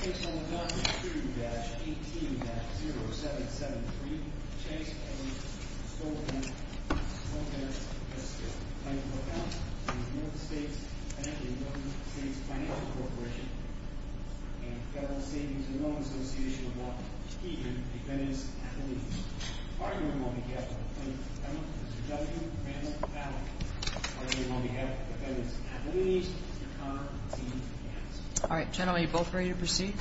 Case number 1-2-18-0773, Chase A. Stoltenberg v. Bancorp Inc., United States Banking, United States Financial Corporation, and Federal Savings and Loan Association of Washington, D.C. Defendants Appellees. Our hearing will be held on the plaintiff's behalf. Mr. Judge, your panel is valid. Our hearing will be held on the defendant's appellees. Mr. Conner, your team, yes. All right, gentlemen, are you both ready to proceed?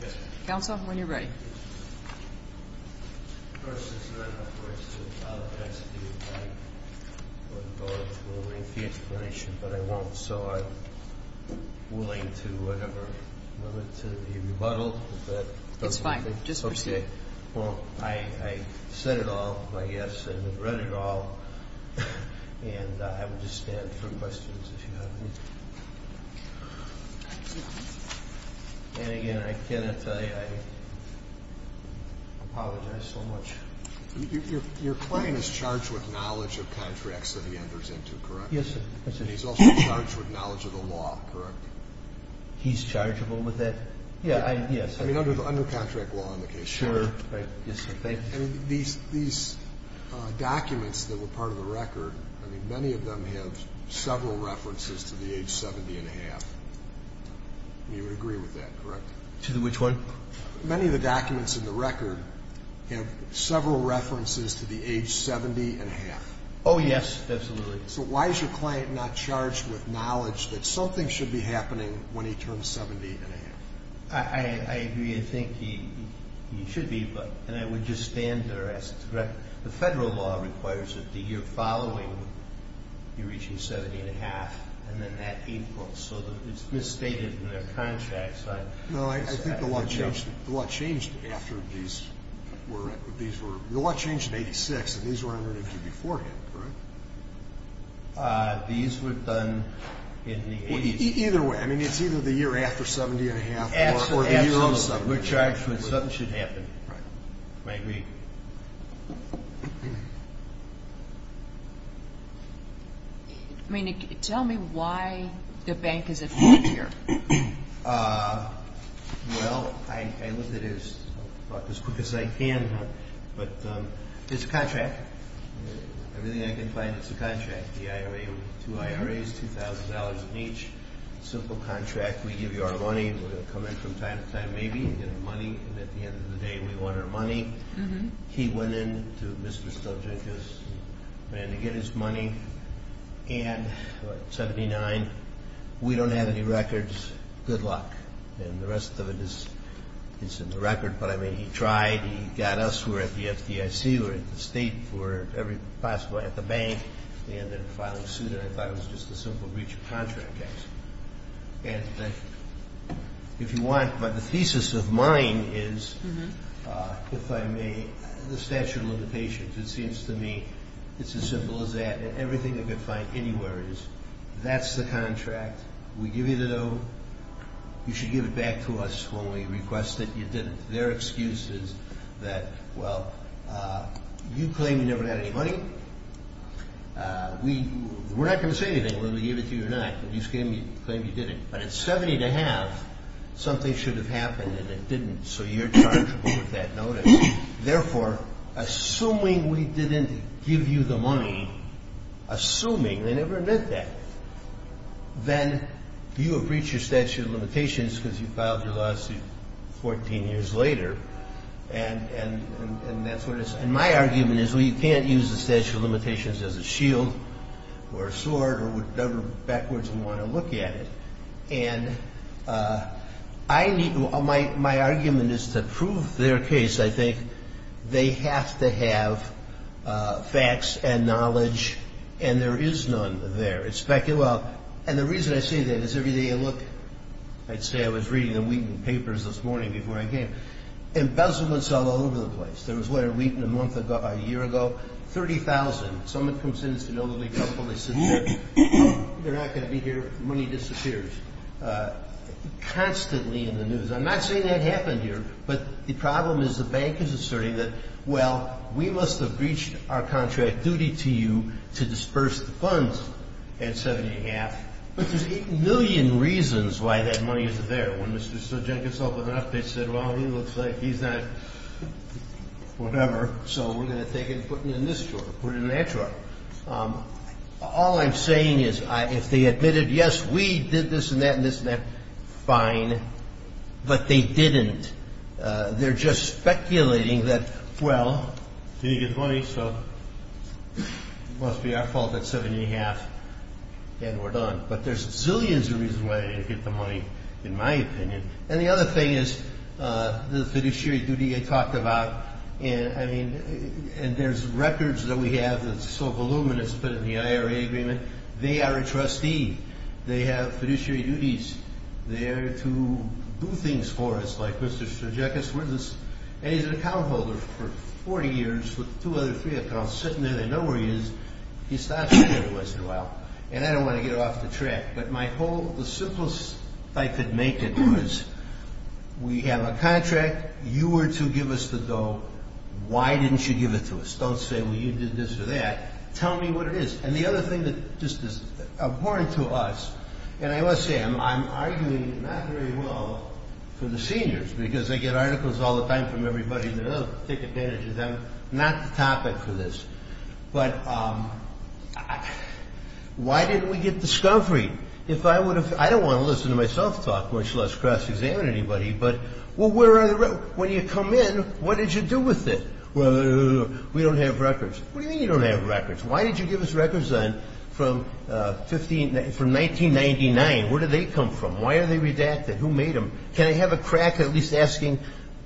Yes, ma'am. Counsel, when you're ready. First of all, of course, I'll ask you to go into a lengthy explanation, but I won't, so I'm willing to whatever limit to be rebuttaled. It's fine. Just proceed. Well, I said it all, I guess, and read it all, and I will just stand for questions if you have any. And, again, I cannot tell you I apologize so much. Your client is charged with knowledge of contracts that he enters into, correct? Yes, sir. He's also charged with knowledge of the law, correct? He's chargeable with that? Yes. I mean, under contract law in the case. Sure. Yes, sir. Thank you. And these documents that were part of the record, I mean, many of them have several references to the age 70-and-a-half. You would agree with that, correct? To which one? Many of the documents in the record have several references to the age 70-and-a-half. Oh, yes, absolutely. So why is your client not charged with knowledge that something should be happening when he turns 70-and-a-half? I agree. I think he should be, and I would just stand there as to correct. The federal law requires that the year following, you're reaching 70-and-a-half, and then that April. So it's misstated in their contracts. No, I think the law changed after these were – the law changed in 1986, and these were under him beforehand, correct? These were done in the 80s. Either way, I mean, it's either the year after 70-and-a-half or the year of 70-and-a-half. Absolutely. When something should happen. Right. I agree. I mean, tell me why the bank is involved here. Well, I looked at it as quick as I can, but it's a contract. Everything I can find, it's a contract. Two IRAs, $2,000 each. Simple contract. We give you our money. We're going to come in from time to time, maybe, and get our money. And at the end of the day, we want our money. He went in to Mr. Stojanko's man to get his money, and at 79, we don't have any records. Good luck. And the rest of it is in the record. But, I mean, he tried. He got us. We're at the FDIC. We're at the state. We're possibly at the bank. And they're filing suit, and I thought it was just a simple breach of contract case. And if you want, but the thesis of mine is, if I may, the statute of limitations. It seems to me it's as simple as that. And everything I could find anywhere is, that's the contract. We give you the note. You should give it back to us when we request it. You didn't. Their excuse is that, well, you claim you never had any money. We're not going to say anything whether we give it to you or not. You claim you didn't. But at 70 to have, something should have happened, and it didn't. So you're charged with that notice. Therefore, assuming we didn't give you the money, assuming, they never admit that, then you have breached your statute of limitations because you filed your lawsuit 14 years later. And that's what it is. And my argument is, well, you can't use the statute of limitations as a shield or a sword or whatever backwards you want to look at it. And my argument is to prove their case, I think, they have to have facts and knowledge. And there is none there. And the reason I say that is every day I look, I'd say I was reading the Wheaton papers this morning before I came, embezzlement's all over the place. There was a letter from Wheaton a year ago, 30,000. Someone comes in, it's an elderly couple. They sit there. They're not going to be here. The money disappears constantly in the news. I'm not saying that happened here, but the problem is the bank is asserting that, well, we must have breached our contract duty to you to disperse the funds at 7 1⁄2. But there's 8 million reasons why that money isn't there. When Mr. Jenkins opened it up, they said, well, he looks like he's not whatever, so we're going to take it and put it in this drawer or put it in that drawer. All I'm saying is if they admitted, yes, we did this and that and this and that, fine. But they didn't. They're just speculating that, well, he didn't get his money, so it must be our fault that 7 1⁄2 and we're done. But there's zillions of reasons why they didn't get the money, in my opinion. And the other thing is the fiduciary duty I talked about, and there's records that we have that's so voluminous put in the IRA agreement. They are a trustee. They have fiduciary duties. They are there to do things for us, like Mr. Jenkins. And he's an account holder for 40 years with two other three accounts, sitting there. They know where he is. He stops me every once in a while, and I don't want to get off the track. But the simplest I could make it was we have a contract. You were to give us the dough. Why didn't you give it to us? Don't say, well, you did this or that. Tell me what it is. And the other thing that just is important to us, and I must say, I'm arguing not very well for the seniors, because they get articles all the time from everybody. Take advantage of them. Not the topic for this. But why didn't we get discovery? I don't want to listen to myself talk, much less cross-examine anybody. But when you come in, what did you do with it? We don't have records. What do you mean you don't have records? Why did you give us records then from 1999? Where did they come from? Why are they redacted? Who made them? Can I have a crack at least asking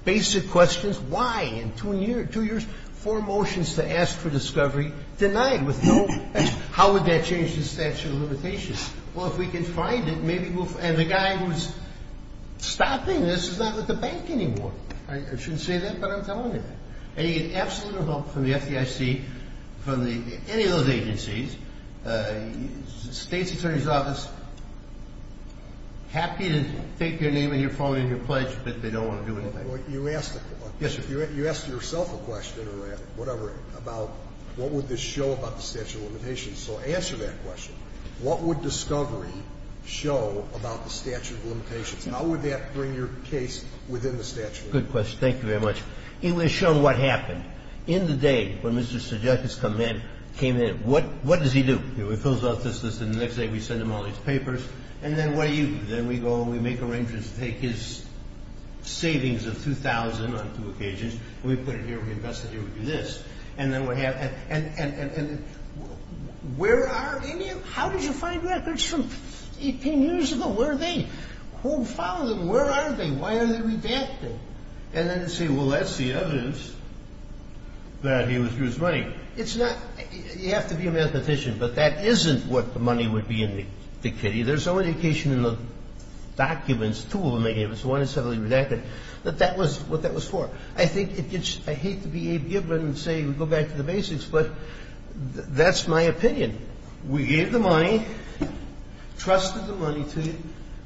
basic questions? Why, in two years, four motions to ask for discovery denied with no question. How would that change the statute of limitations? Well, if we can find it, maybe we'll find it. And the guy who's stopping this is not with the bank anymore. I shouldn't say that, but I'm telling you that. from the FDIC, from any of those agencies, state's attorney's office, happy to take your name and your phone and your pledge, but they don't want to do anything. You asked yourself a question, or whatever, about what would this show about the statute of limitations. So answer that question. What would discovery show about the statute of limitations? How would that bring your case within the statute? Good question. Thank you very much. It would have shown what happened. In the day when Mr. Sudeikis came in, what does he do? He fills out this list, and the next day we send him all these papers. And then what do you do? Then we go and we make arrangements to take his savings of $2,000 on two occasions. We put it here, we invest it here, we do this. And then we have, and where are any of them? How did you find records from 18 years ago? Where are they? Who followed them? Where are they? Why are they redacted? And then you say, well, that's the evidence that he withdrew his money. It's not, you have to be a mathematician, but that isn't what the money would be in the kitty. There's no indication in the documents, two of them, maybe it was one that was redacted, that that was what that was for. I think it gets, I hate to be a gibber and say we go back to the basics, but that's my opinion. We gave the money, trusted the money to you,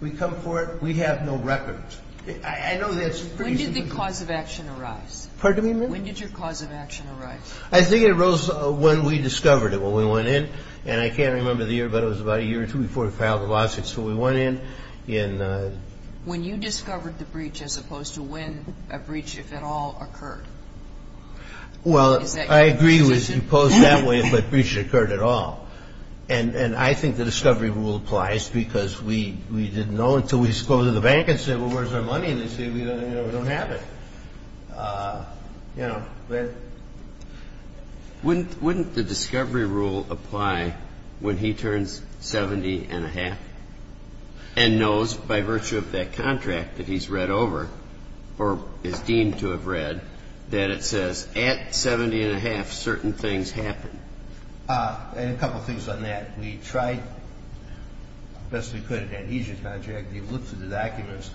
we come for it, we have no records. I know that's pretty simple. When did the cause of action arise? Pardon me, ma'am? When did your cause of action arise? I think it arose when we discovered it, when we went in. And I can't remember the year, but it was about a year or two before we filed the lawsuit. So we went in. When you discovered the breach as opposed to when a breach, if at all, occurred. Well, I agree with you posed that way, but a breach occurred at all. And I think the discovery rule applies because we didn't know until we disclosed to the bank and said, well, where's our money? And they said, we don't have it. Wouldn't the discovery rule apply when he turns 70 and a half and knows by virtue of that contract that he's read over or is deemed to have read that it says at 70 and a half certain things happen? And a couple of things on that. We tried, best we could, an adhesion contract. We looked through the documents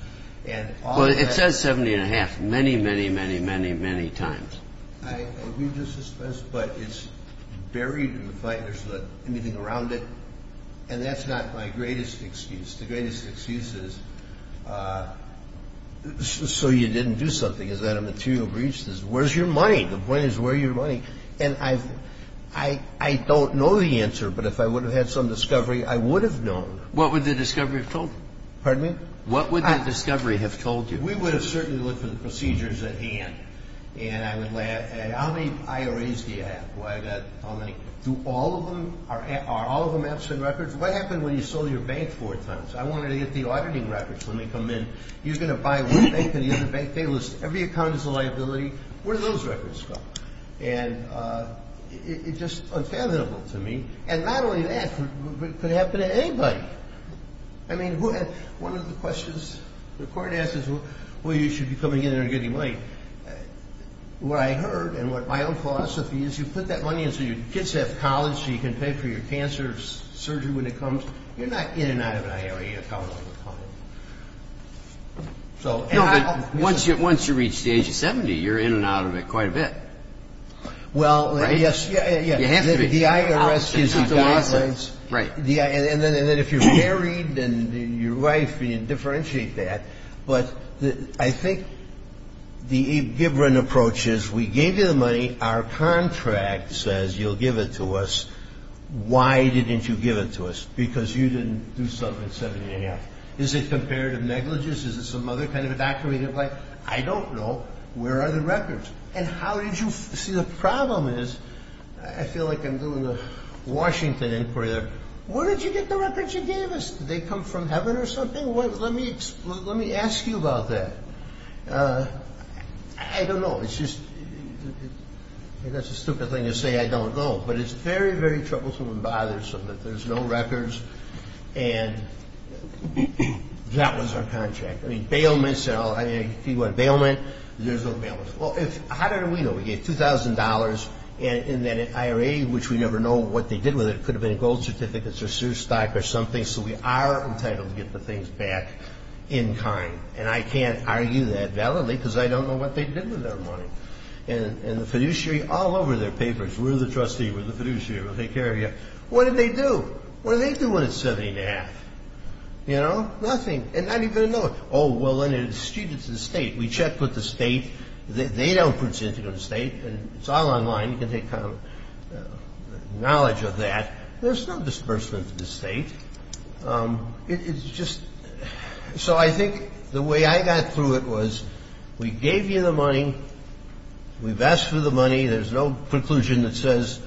and all that. Well, it says 70 and a half many, many, many, many, many times. I agree with your suspense, but it's buried in the file. There's not anything around it. And that's not my greatest excuse. The greatest excuse is so you didn't do something. Is that a material breach? Where's your money? The point is, where's your money? And I don't know the answer. But if I would have had some discovery, I would have known. What would the discovery have told you? Pardon me? What would the discovery have told you? We would have certainly looked for the procedures at hand. And I would ask, how many IRAs do you have? Do all of them, are all of them absent records? What happened when you sold your bank four times? I wanted to get the auditing records when they come in. You're going to buy one bank and the other bank, they list every account as a liability, where do those records go? And it's just unfathomable to me. And not only that, but it could happen to anybody. I mean, one of the questions the court asks is, well, you should be coming in here and getting money. What I heard and what my own philosophy is, you put that money in so your kids have college so you can pay for your cancer surgery when it comes. You're not in and out of an IRA account all the time. So, you know, once you reach the age of 70, you're in and out of it quite a bit. Right? Well, yes. You have to be. The IRS gives you guidelines. Right. And then if you're married and your wife, you differentiate that. But I think the Gibran approach is we gave you the money, our contract says you'll give it to us. Why didn't you give it to us? Because you didn't do something at 70 and a half. Is it comparative negligence? Is it some other kind of a document? I don't know. Where are the records? And how did you see the problem is I feel like I'm doing a Washington inquiry there. Where did you get the records you gave us? Did they come from heaven or something? Let me ask you about that. I don't know. It's just that's a stupid thing to say I don't know. But it's very, very troublesome and bothersome that there's no records. And that was our contract. I mean, bailments and all. If you want bailment, there's no bailments. Well, how did we know? We gave $2,000 in that IRA, which we never know what they did with it. It could have been gold certificates or sure stock or something. So we are entitled to get the things back in kind. And I can't argue that validly because I don't know what they did with their money. And the fiduciary, all over their papers, we're the trustee. We're the fiduciary. We'll take care of you. What did they do? What did they do when it's 70 and a half? You know? Nothing. And not even a note. Oh, well, then it's distributed to the state. We check with the state. They don't put it in the state. It's all online. You can take knowledge of that. There's no disbursement to the state. It's just so I think the way I got through it was we gave you the money. We've asked for the money. There's no conclusion that says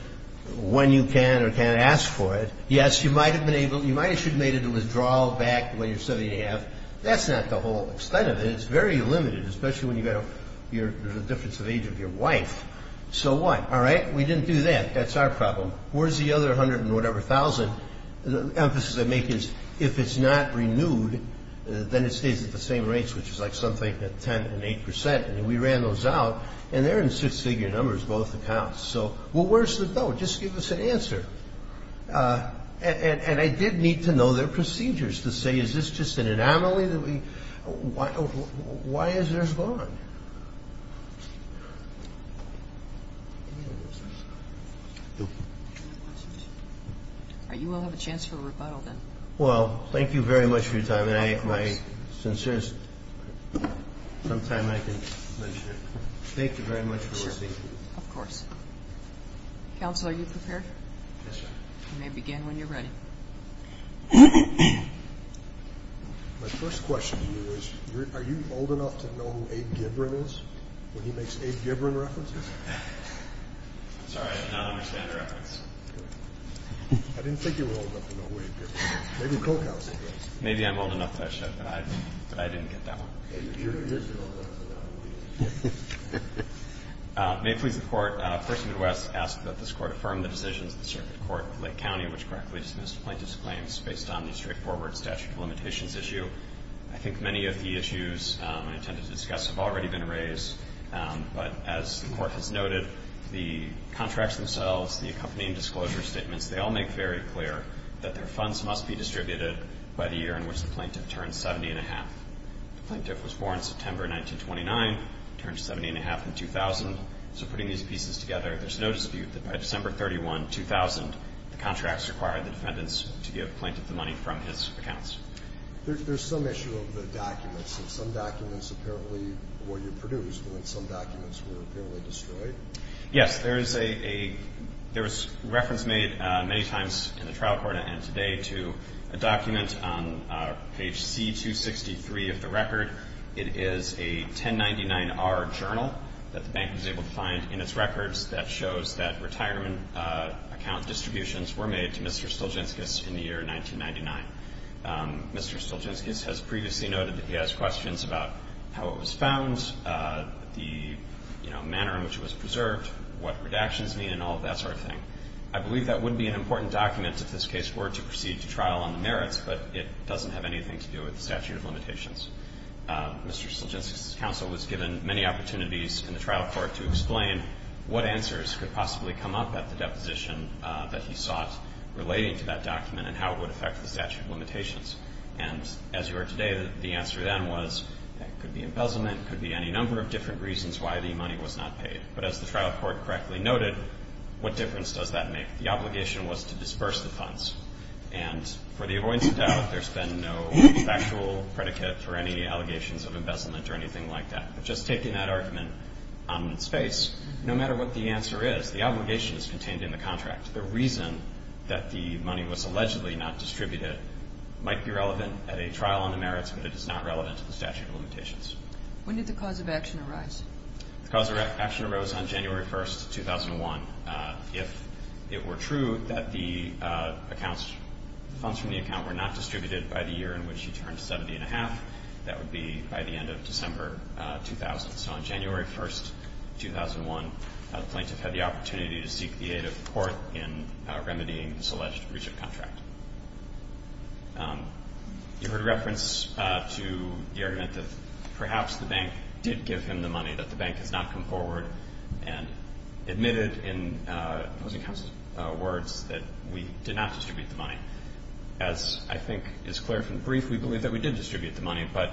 when you can or can't ask for it. Yes, you might have been able, you might have made it a withdrawal back when you're 70 and a half. That's not the whole extent of it. It's very limited, especially when you've got a difference of age of your wife. So what? All right? We didn't do that. That's our problem. Where's the other 100 and whatever thousand? The emphasis I make is if it's not renewed, then it stays at the same rates, which is like something at 10 and 8 percent. I mean, we ran those out, and they're in six-figure numbers, both accounts. So where's the doubt? Just give us an answer. And I did need to know their procedures to say is this just an anomaly? Why is there a bond? You all have a chance for a rebuttal then. Well, thank you very much for your time. My sincerest, sometime I can mention it. Thank you very much for receiving me. Of course. Counsel, are you prepared? Yes, ma'am. You may begin when you're ready. My first question to you is are you old enough to know who Abe Gibran is when he makes Abe Gibran references? Sorry, I do not understand the reference. I didn't think you were old enough to know who Abe Gibran is. Maybe I'm old enough that I should, but I didn't get that one. May it please the Court, Firstman West asks that this Court affirm the decisions of the Circuit Court of Lake County which correctly dismissed plaintiff's claims based on the straightforward statute of limitations issue. I think many of the issues I intend to discuss have already been raised, but as the Court has noted, the contracts themselves, the accompanying disclosure statements, they all make very clear that their funds must be distributed by the year in which the plaintiff turns 70 1⁄2. The plaintiff was born September 1929, turned 70 1⁄2 in 2000, so putting these pieces together, there's no dispute that by December 31, 2000, the contracts required the defendants to give the plaintiff the money from his accounts. There's some issue of the documents, and some documents apparently were reproduced when some documents were apparently destroyed. Yes. There is a reference made many times in the trial court and today to a document on page C-263 of the record. It is a 1099-R journal that the bank was able to find in its records that shows that retirement account distributions were made to Mr. Stulgenskis in the year 1999. Mr. Stulgenskis has previously noted that he has questions about how it was found, the manner in which it was preserved, what redactions mean, and all of that sort of thing. I believe that would be an important document if this case were to proceed to trial on the merits, but it doesn't have anything to do with the statute of limitations. Mr. Stulgenskis' counsel was given many opportunities in the trial court to explain what answers could possibly come up at the deposition that he sought relating to that document and how it would affect the statute of limitations. And as you are today, the answer then was it could be embezzlement, it could be any number of different reasons why the money was not paid. But as the trial court correctly noted, what difference does that make? The obligation was to disperse the funds. And for the avoidance of doubt, there's been no factual predicate for any allegations of embezzlement or anything like that. But just taking that argument on its face, no matter what the answer is, the obligation is contained in the contract. The reason that the money was allegedly not distributed might be relevant at a trial on the merits, but it is not relevant to the statute of limitations. When did the cause of action arise? The cause of action arose on January 1st, 2001. If it were true that the accounts, funds from the account were not distributed by the year in which he turned 70-and-a-half, that would be by the end of December 2000. So on January 1st, 2001, the plaintiff had the opportunity to seek the aid of court in remedying this alleged breach of contract. You heard reference to the argument that perhaps the bank did give him the money, that the bank has not come forward and admitted in opposing counsel's words that we did not distribute the money. As I think is clear from the brief, we believe that we did distribute the money, but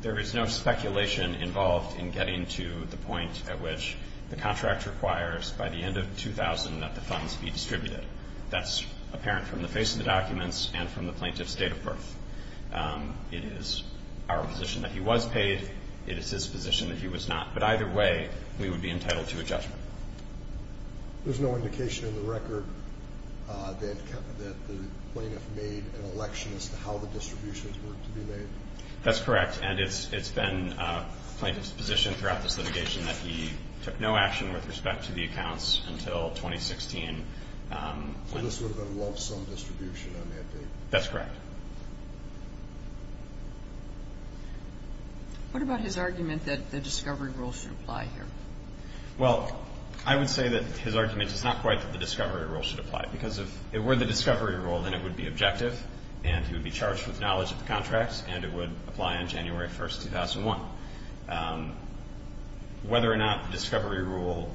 there is no speculation involved in getting to the point at which the contract requires, by the end of 2000, that the funds be distributed. That's apparent from the face of the documents and from the plaintiff's date of birth. It is our position that he was paid. It is his position that he was not. There's no indication in the record that the plaintiff made an election as to how the distributions were to be made? That's correct, and it's been the plaintiff's position throughout this litigation that he took no action with respect to the accounts until 2016. So this would have been a lonesome distribution on that date? That's correct. What about his argument that the discovery rule should apply here? Well, I would say that his argument is not quite that the discovery rule should apply, because if it were the discovery rule, then it would be objective, and he would be charged with knowledge of the contract, and it would apply on January 1st, 2001. Whether or not the discovery rule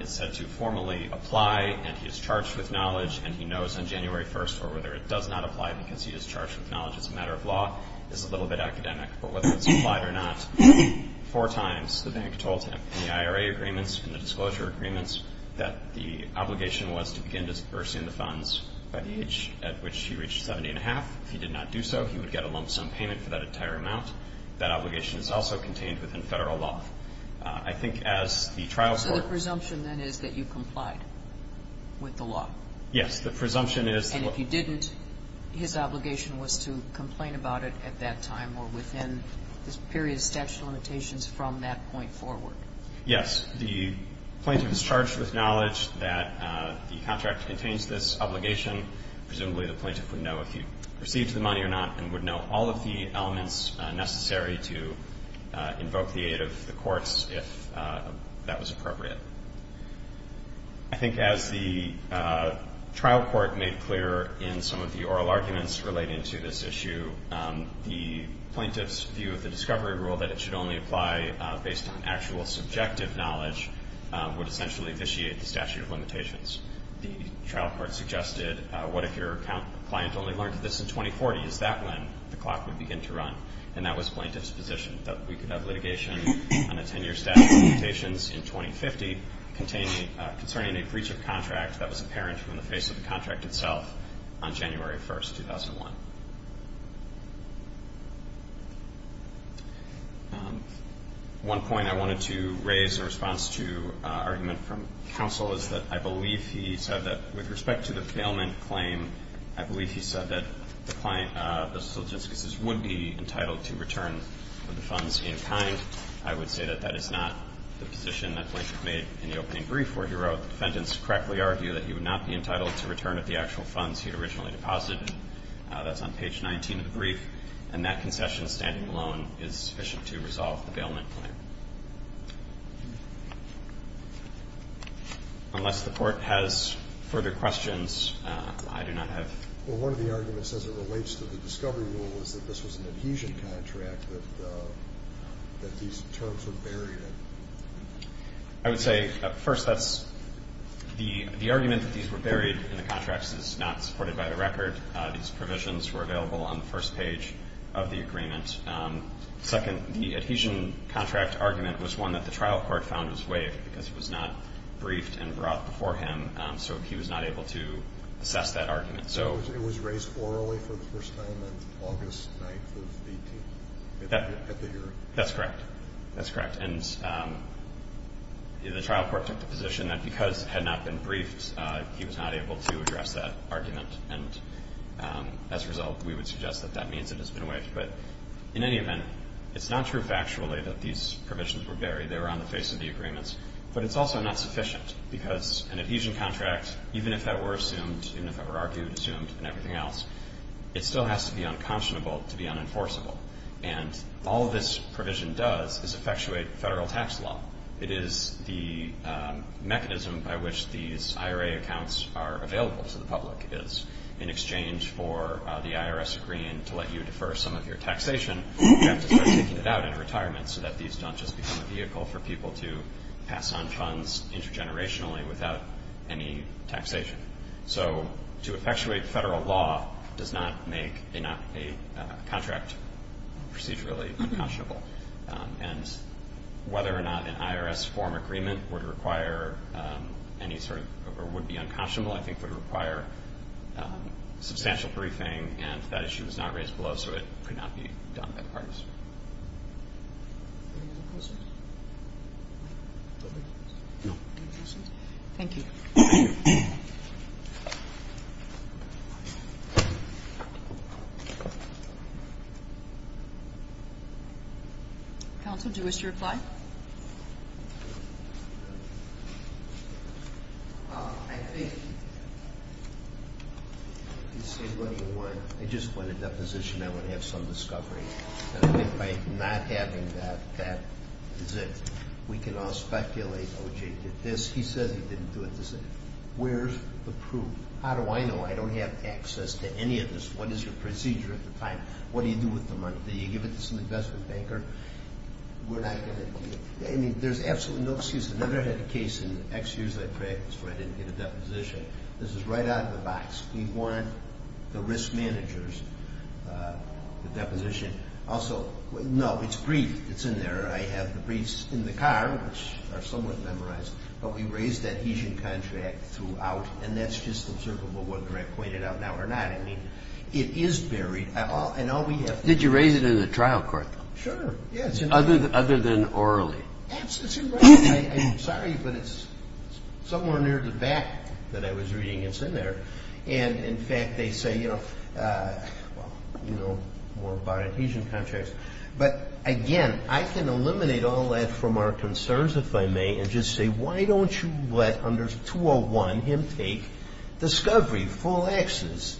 is said to formally apply, and he is charged with knowledge, and he knows on January 1st, or whether it does not apply because he is charged with knowledge as a matter of law, is a little bit academic. But whether it's applied or not, four times the bank told him in the IRA agreements and the disclosure agreements that the obligation was to begin disbursing the funds by the age at which he reached 70 1⁄2. If he did not do so, he would get a lump sum payment for that entire amount. That obligation is also contained within federal law. I think as the trial court ---- So the presumption, then, is that you complied with the law? Yes, the presumption is that ---- Yes, the plaintiff is charged with knowledge that the contract contains this obligation. Presumably, the plaintiff would know if he received the money or not, and would know all of the elements necessary to invoke the aid of the courts if that was appropriate. I think as the trial court made clear in some of the oral arguments relating to this issue, the plaintiff's view of the discovery rule that it should only apply based on actual subjective knowledge would essentially vitiate the statute of limitations. The trial court suggested, what if your client only learned of this in 2040? Is that when the clock would begin to run? And that was plaintiff's position, that we could have litigation on a 10-year statute of limitations in 2050 concerning a breach of contract that was apparent from the face of the contract itself on January 1st, 2001. One point I wanted to raise in response to an argument from counsel is that I believe he said that with respect to the bailment claim, I believe he said that the plaintiff's logisticus would be entitled to return the funds in kind. I would say that that is not the position that the plaintiff made in the opening brief, where he wrote, the defendants correctly argue that he would not be entitled to return the actual funds he had originally deposited. That's on page 19 of the brief, and that concession standing alone is sufficient to resolve the bailment claim. Unless the court has further questions, I do not have... Well, one of the arguments as it relates to the discovery rule is that this was an adhesion contract that these terms were buried in. I would say, first, that's... The argument that these were buried in the contracts is not supported by the record. These provisions were available on the first page of the agreement. Second, the adhesion contract argument was one that the trial court found was waived because it was not briefed and brought before him, so he was not able to assess that argument. It was raised orally for the first time on August 9th of 18th, at the hearing. That's correct. That's correct. And the trial court took the position that because it had not been briefed, he was not able to address that argument. And as a result, we would suggest that that means it has been waived. But in any event, it's not true factually that these provisions were buried. They were on the face of the agreements. But it's also not sufficient because an adhesion contract, even if that were assumed, even if it were argued, assumed, and everything else, it still has to be unconscionable to be unenforceable. And all this provision does is effectuate federal tax law. It is the mechanism by which these IRA accounts are available to the public. It is in exchange for the IRS agreeing to let you defer some of your taxation. You have to start taking it out in retirement so that these don't just become a vehicle for people to pass on funds intergenerationally without any taxation. So to effectuate federal law does not make a contract procedurally unconscionable. And whether or not an IRS form agreement would require any sort of or would be unconscionable I think would require substantial briefing, and that issue is not raised below, so it could not be done by the parties. Thank you. Counsel, do you wish to reply? I think you said what you want. I just want a deposition. I want to have some discovery. And I think by not having that, that is it. We can all speculate, oh, Jay did this. He says he didn't do it. Where's the proof? How do I know I don't have access to any of this? What is your procedure at the time? What do you do with the money? Do you give it to some investment banker? I mean, there's absolutely no excuse. I never had a case in X years of practice where I didn't get a deposition. This is right out of the box. We want the risk managers, the deposition. Also, no, it's briefed. It's in there. I have the briefs in the car, which are somewhat memorized. But we raised that adhesion contract throughout, and that's just observable whether I point it out now or not. I mean, it is buried. Did you raise it in the trial court? Sure, yes. Other than orally? It's in writing. I'm sorry, but it's somewhere near the back that I was reading. It's in there. And, in fact, they say, you know, well, you know more about adhesion contracts. But, again, I can eliminate all that from our concerns, if I may, and just say why don't you let under 201 him take discovery, full access.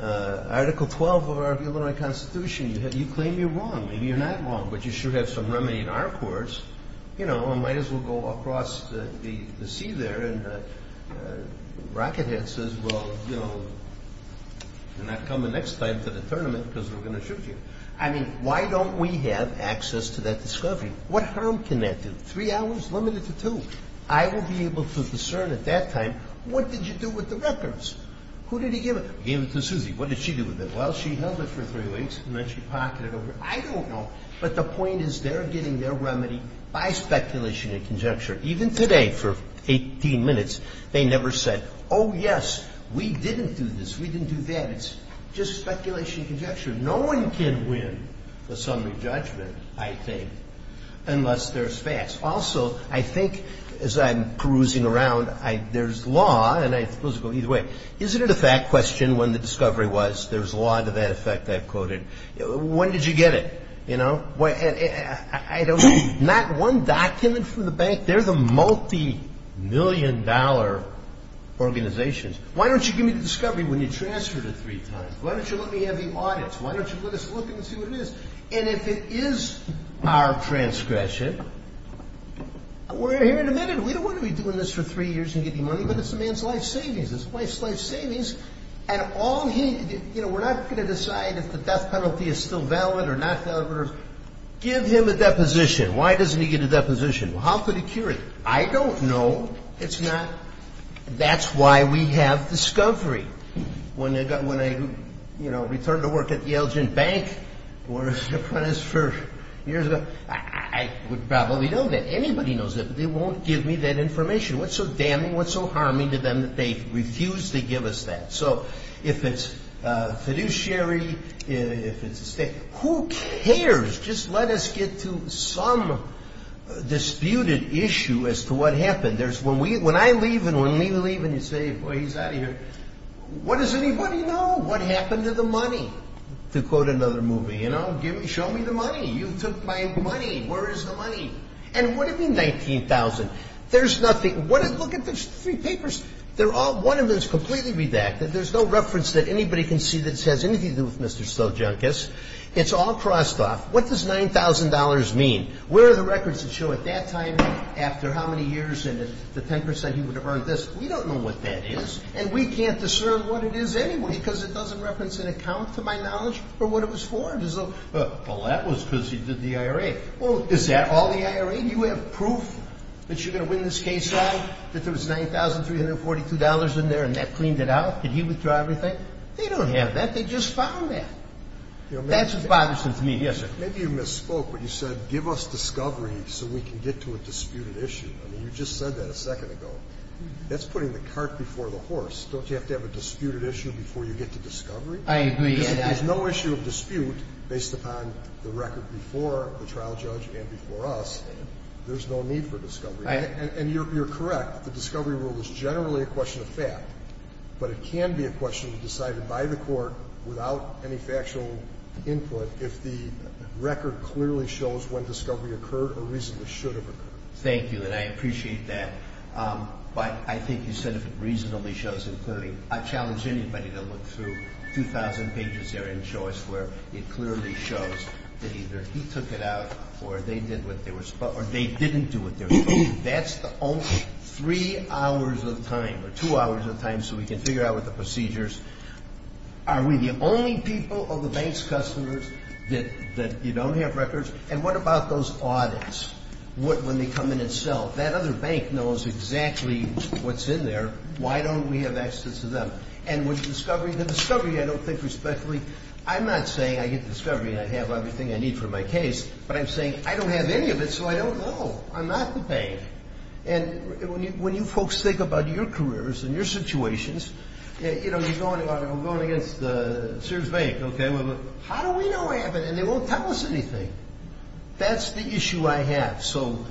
Article 12 of our Illinois Constitution, you claim you're wrong. Maybe you're not wrong, but you should have some remedy in our courts. You know, might as well go across the sea there. And Rockethead says, well, you know, you're not coming next time to the tournament because we're going to shoot you. I mean, why don't we have access to that discovery? What harm can that do? Three hours limited to two. I will be able to discern at that time, what did you do with the records? Who did he give it to? He gave it to Susie. What did she do with it? Well, she held it for three weeks, and then she pocketed over it. I don't know. But the point is, they're getting their remedy by speculation and conjecture. Even today, for 18 minutes, they never said, oh, yes, we didn't do this. We didn't do that. It's just speculation and conjecture. No one can win the summary judgment, I think, unless there's facts. Also, I think, as I'm perusing around, there's law, and I suppose it goes either way. Isn't it a fact question when the discovery was, there's law to that effect I've quoted? When did you get it? Not one document from the bank. They're the multi-million dollar organizations. Why don't you give me the discovery when you transferred it three times? Why don't you let me have the audits? Why don't you let us look and see what it is? And if it is our transgression, we're here to admit it. We don't want to be doing this for three years and getting money, but it's a man's life savings. It's a wife's life savings. And all he, you know, we're not going to decide if the death penalty is still valid or not valid. Give him a deposition. Why doesn't he get a deposition? How could he cure it? I don't know. It's not. That's why we have discovery. When I, you know, returned to work at Yale-Gent Bank where I was an apprentice for years ago, I would probably know that. Anybody knows that, but they won't give me that information. What's so damning, what's so harming to them that they refuse to give us that? So if it's fiduciary, if it's a state, who cares? Just let us get to some disputed issue as to what happened. When I leave and when we leave and you say, boy, he's out of here, what does anybody know what happened to the money? To quote another movie, you know, show me the money. You took my money. And what do you mean $19,000? There's nothing. Look at the three papers. One of them is completely redacted. There's no reference that anybody can see that it has anything to do with Mr. Sojunkas. It's all crossed off. What does $9,000 mean? Where are the records that show at that time after how many years and the 10 percent he would have earned this? We don't know what that is, and we can't discern what it is anyway because it doesn't reference an account, to my knowledge, or what it was for. Well, that was because he did the IRA. Well, is that all the IRA? Maybe you have proof that you're going to win this case, right, that there was $9,342 in there and that cleaned it out? Did he withdraw everything? They don't have that. They just found that. That's what bothers me. Yes, sir. Maybe you misspoke when you said give us discovery so we can get to a disputed issue. I mean, you just said that a second ago. That's putting the cart before the horse. Don't you have to have a disputed issue before you get to discovery? I agree. There's no issue of dispute based upon the record before the trial judge and before us. There's no need for discovery. And you're correct. The discovery rule is generally a question of fact, but it can be a question decided by the court without any factual input if the record clearly shows when discovery occurred or reasonably should have occurred. Thank you, and I appreciate that. But I think you said if it reasonably shows, including I challenge anybody to look through 2,000 pages there and show us where it clearly shows that either he took it out or they did what they were supposed to or they didn't do what they were supposed to. That's the only three hours of time or two hours of time so we can figure out what the procedures. Are we the only people of the bank's customers that you don't have records? And what about those audits when they come in and sell? That other bank knows exactly what's in there. Why don't we have access to them? And with discovery, the discovery I don't think respectfully, I'm not saying I get the discovery and I have everything I need for my case, but I'm saying I don't have any of it so I don't know. I'm not the bank. And when you folks think about your careers and your situations, you know, you're going against Sears Bank, okay? How do we know I have it and they won't tell us anything? That's the issue I have. So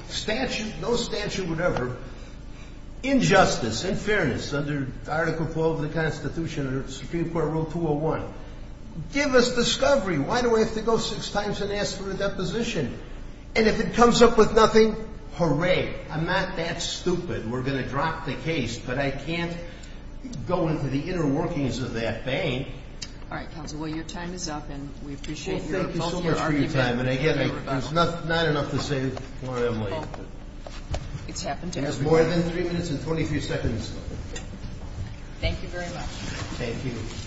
no statute would ever, in justice, in fairness, under Article 12 of the Constitution, under Supreme Court Rule 201, give us discovery. Why do I have to go six times and ask for a deposition? And if it comes up with nothing, hooray, I'm not that stupid. We're going to drop the case, but I can't go into the inner workings of that bank. All right, counsel, well, your time is up, and we appreciate your time. Thank you so much for your time. And again, there's not enough to save Laura Emily. It's happened to everyone. There's more than three minutes and 23 seconds. Thank you very much. Thank you.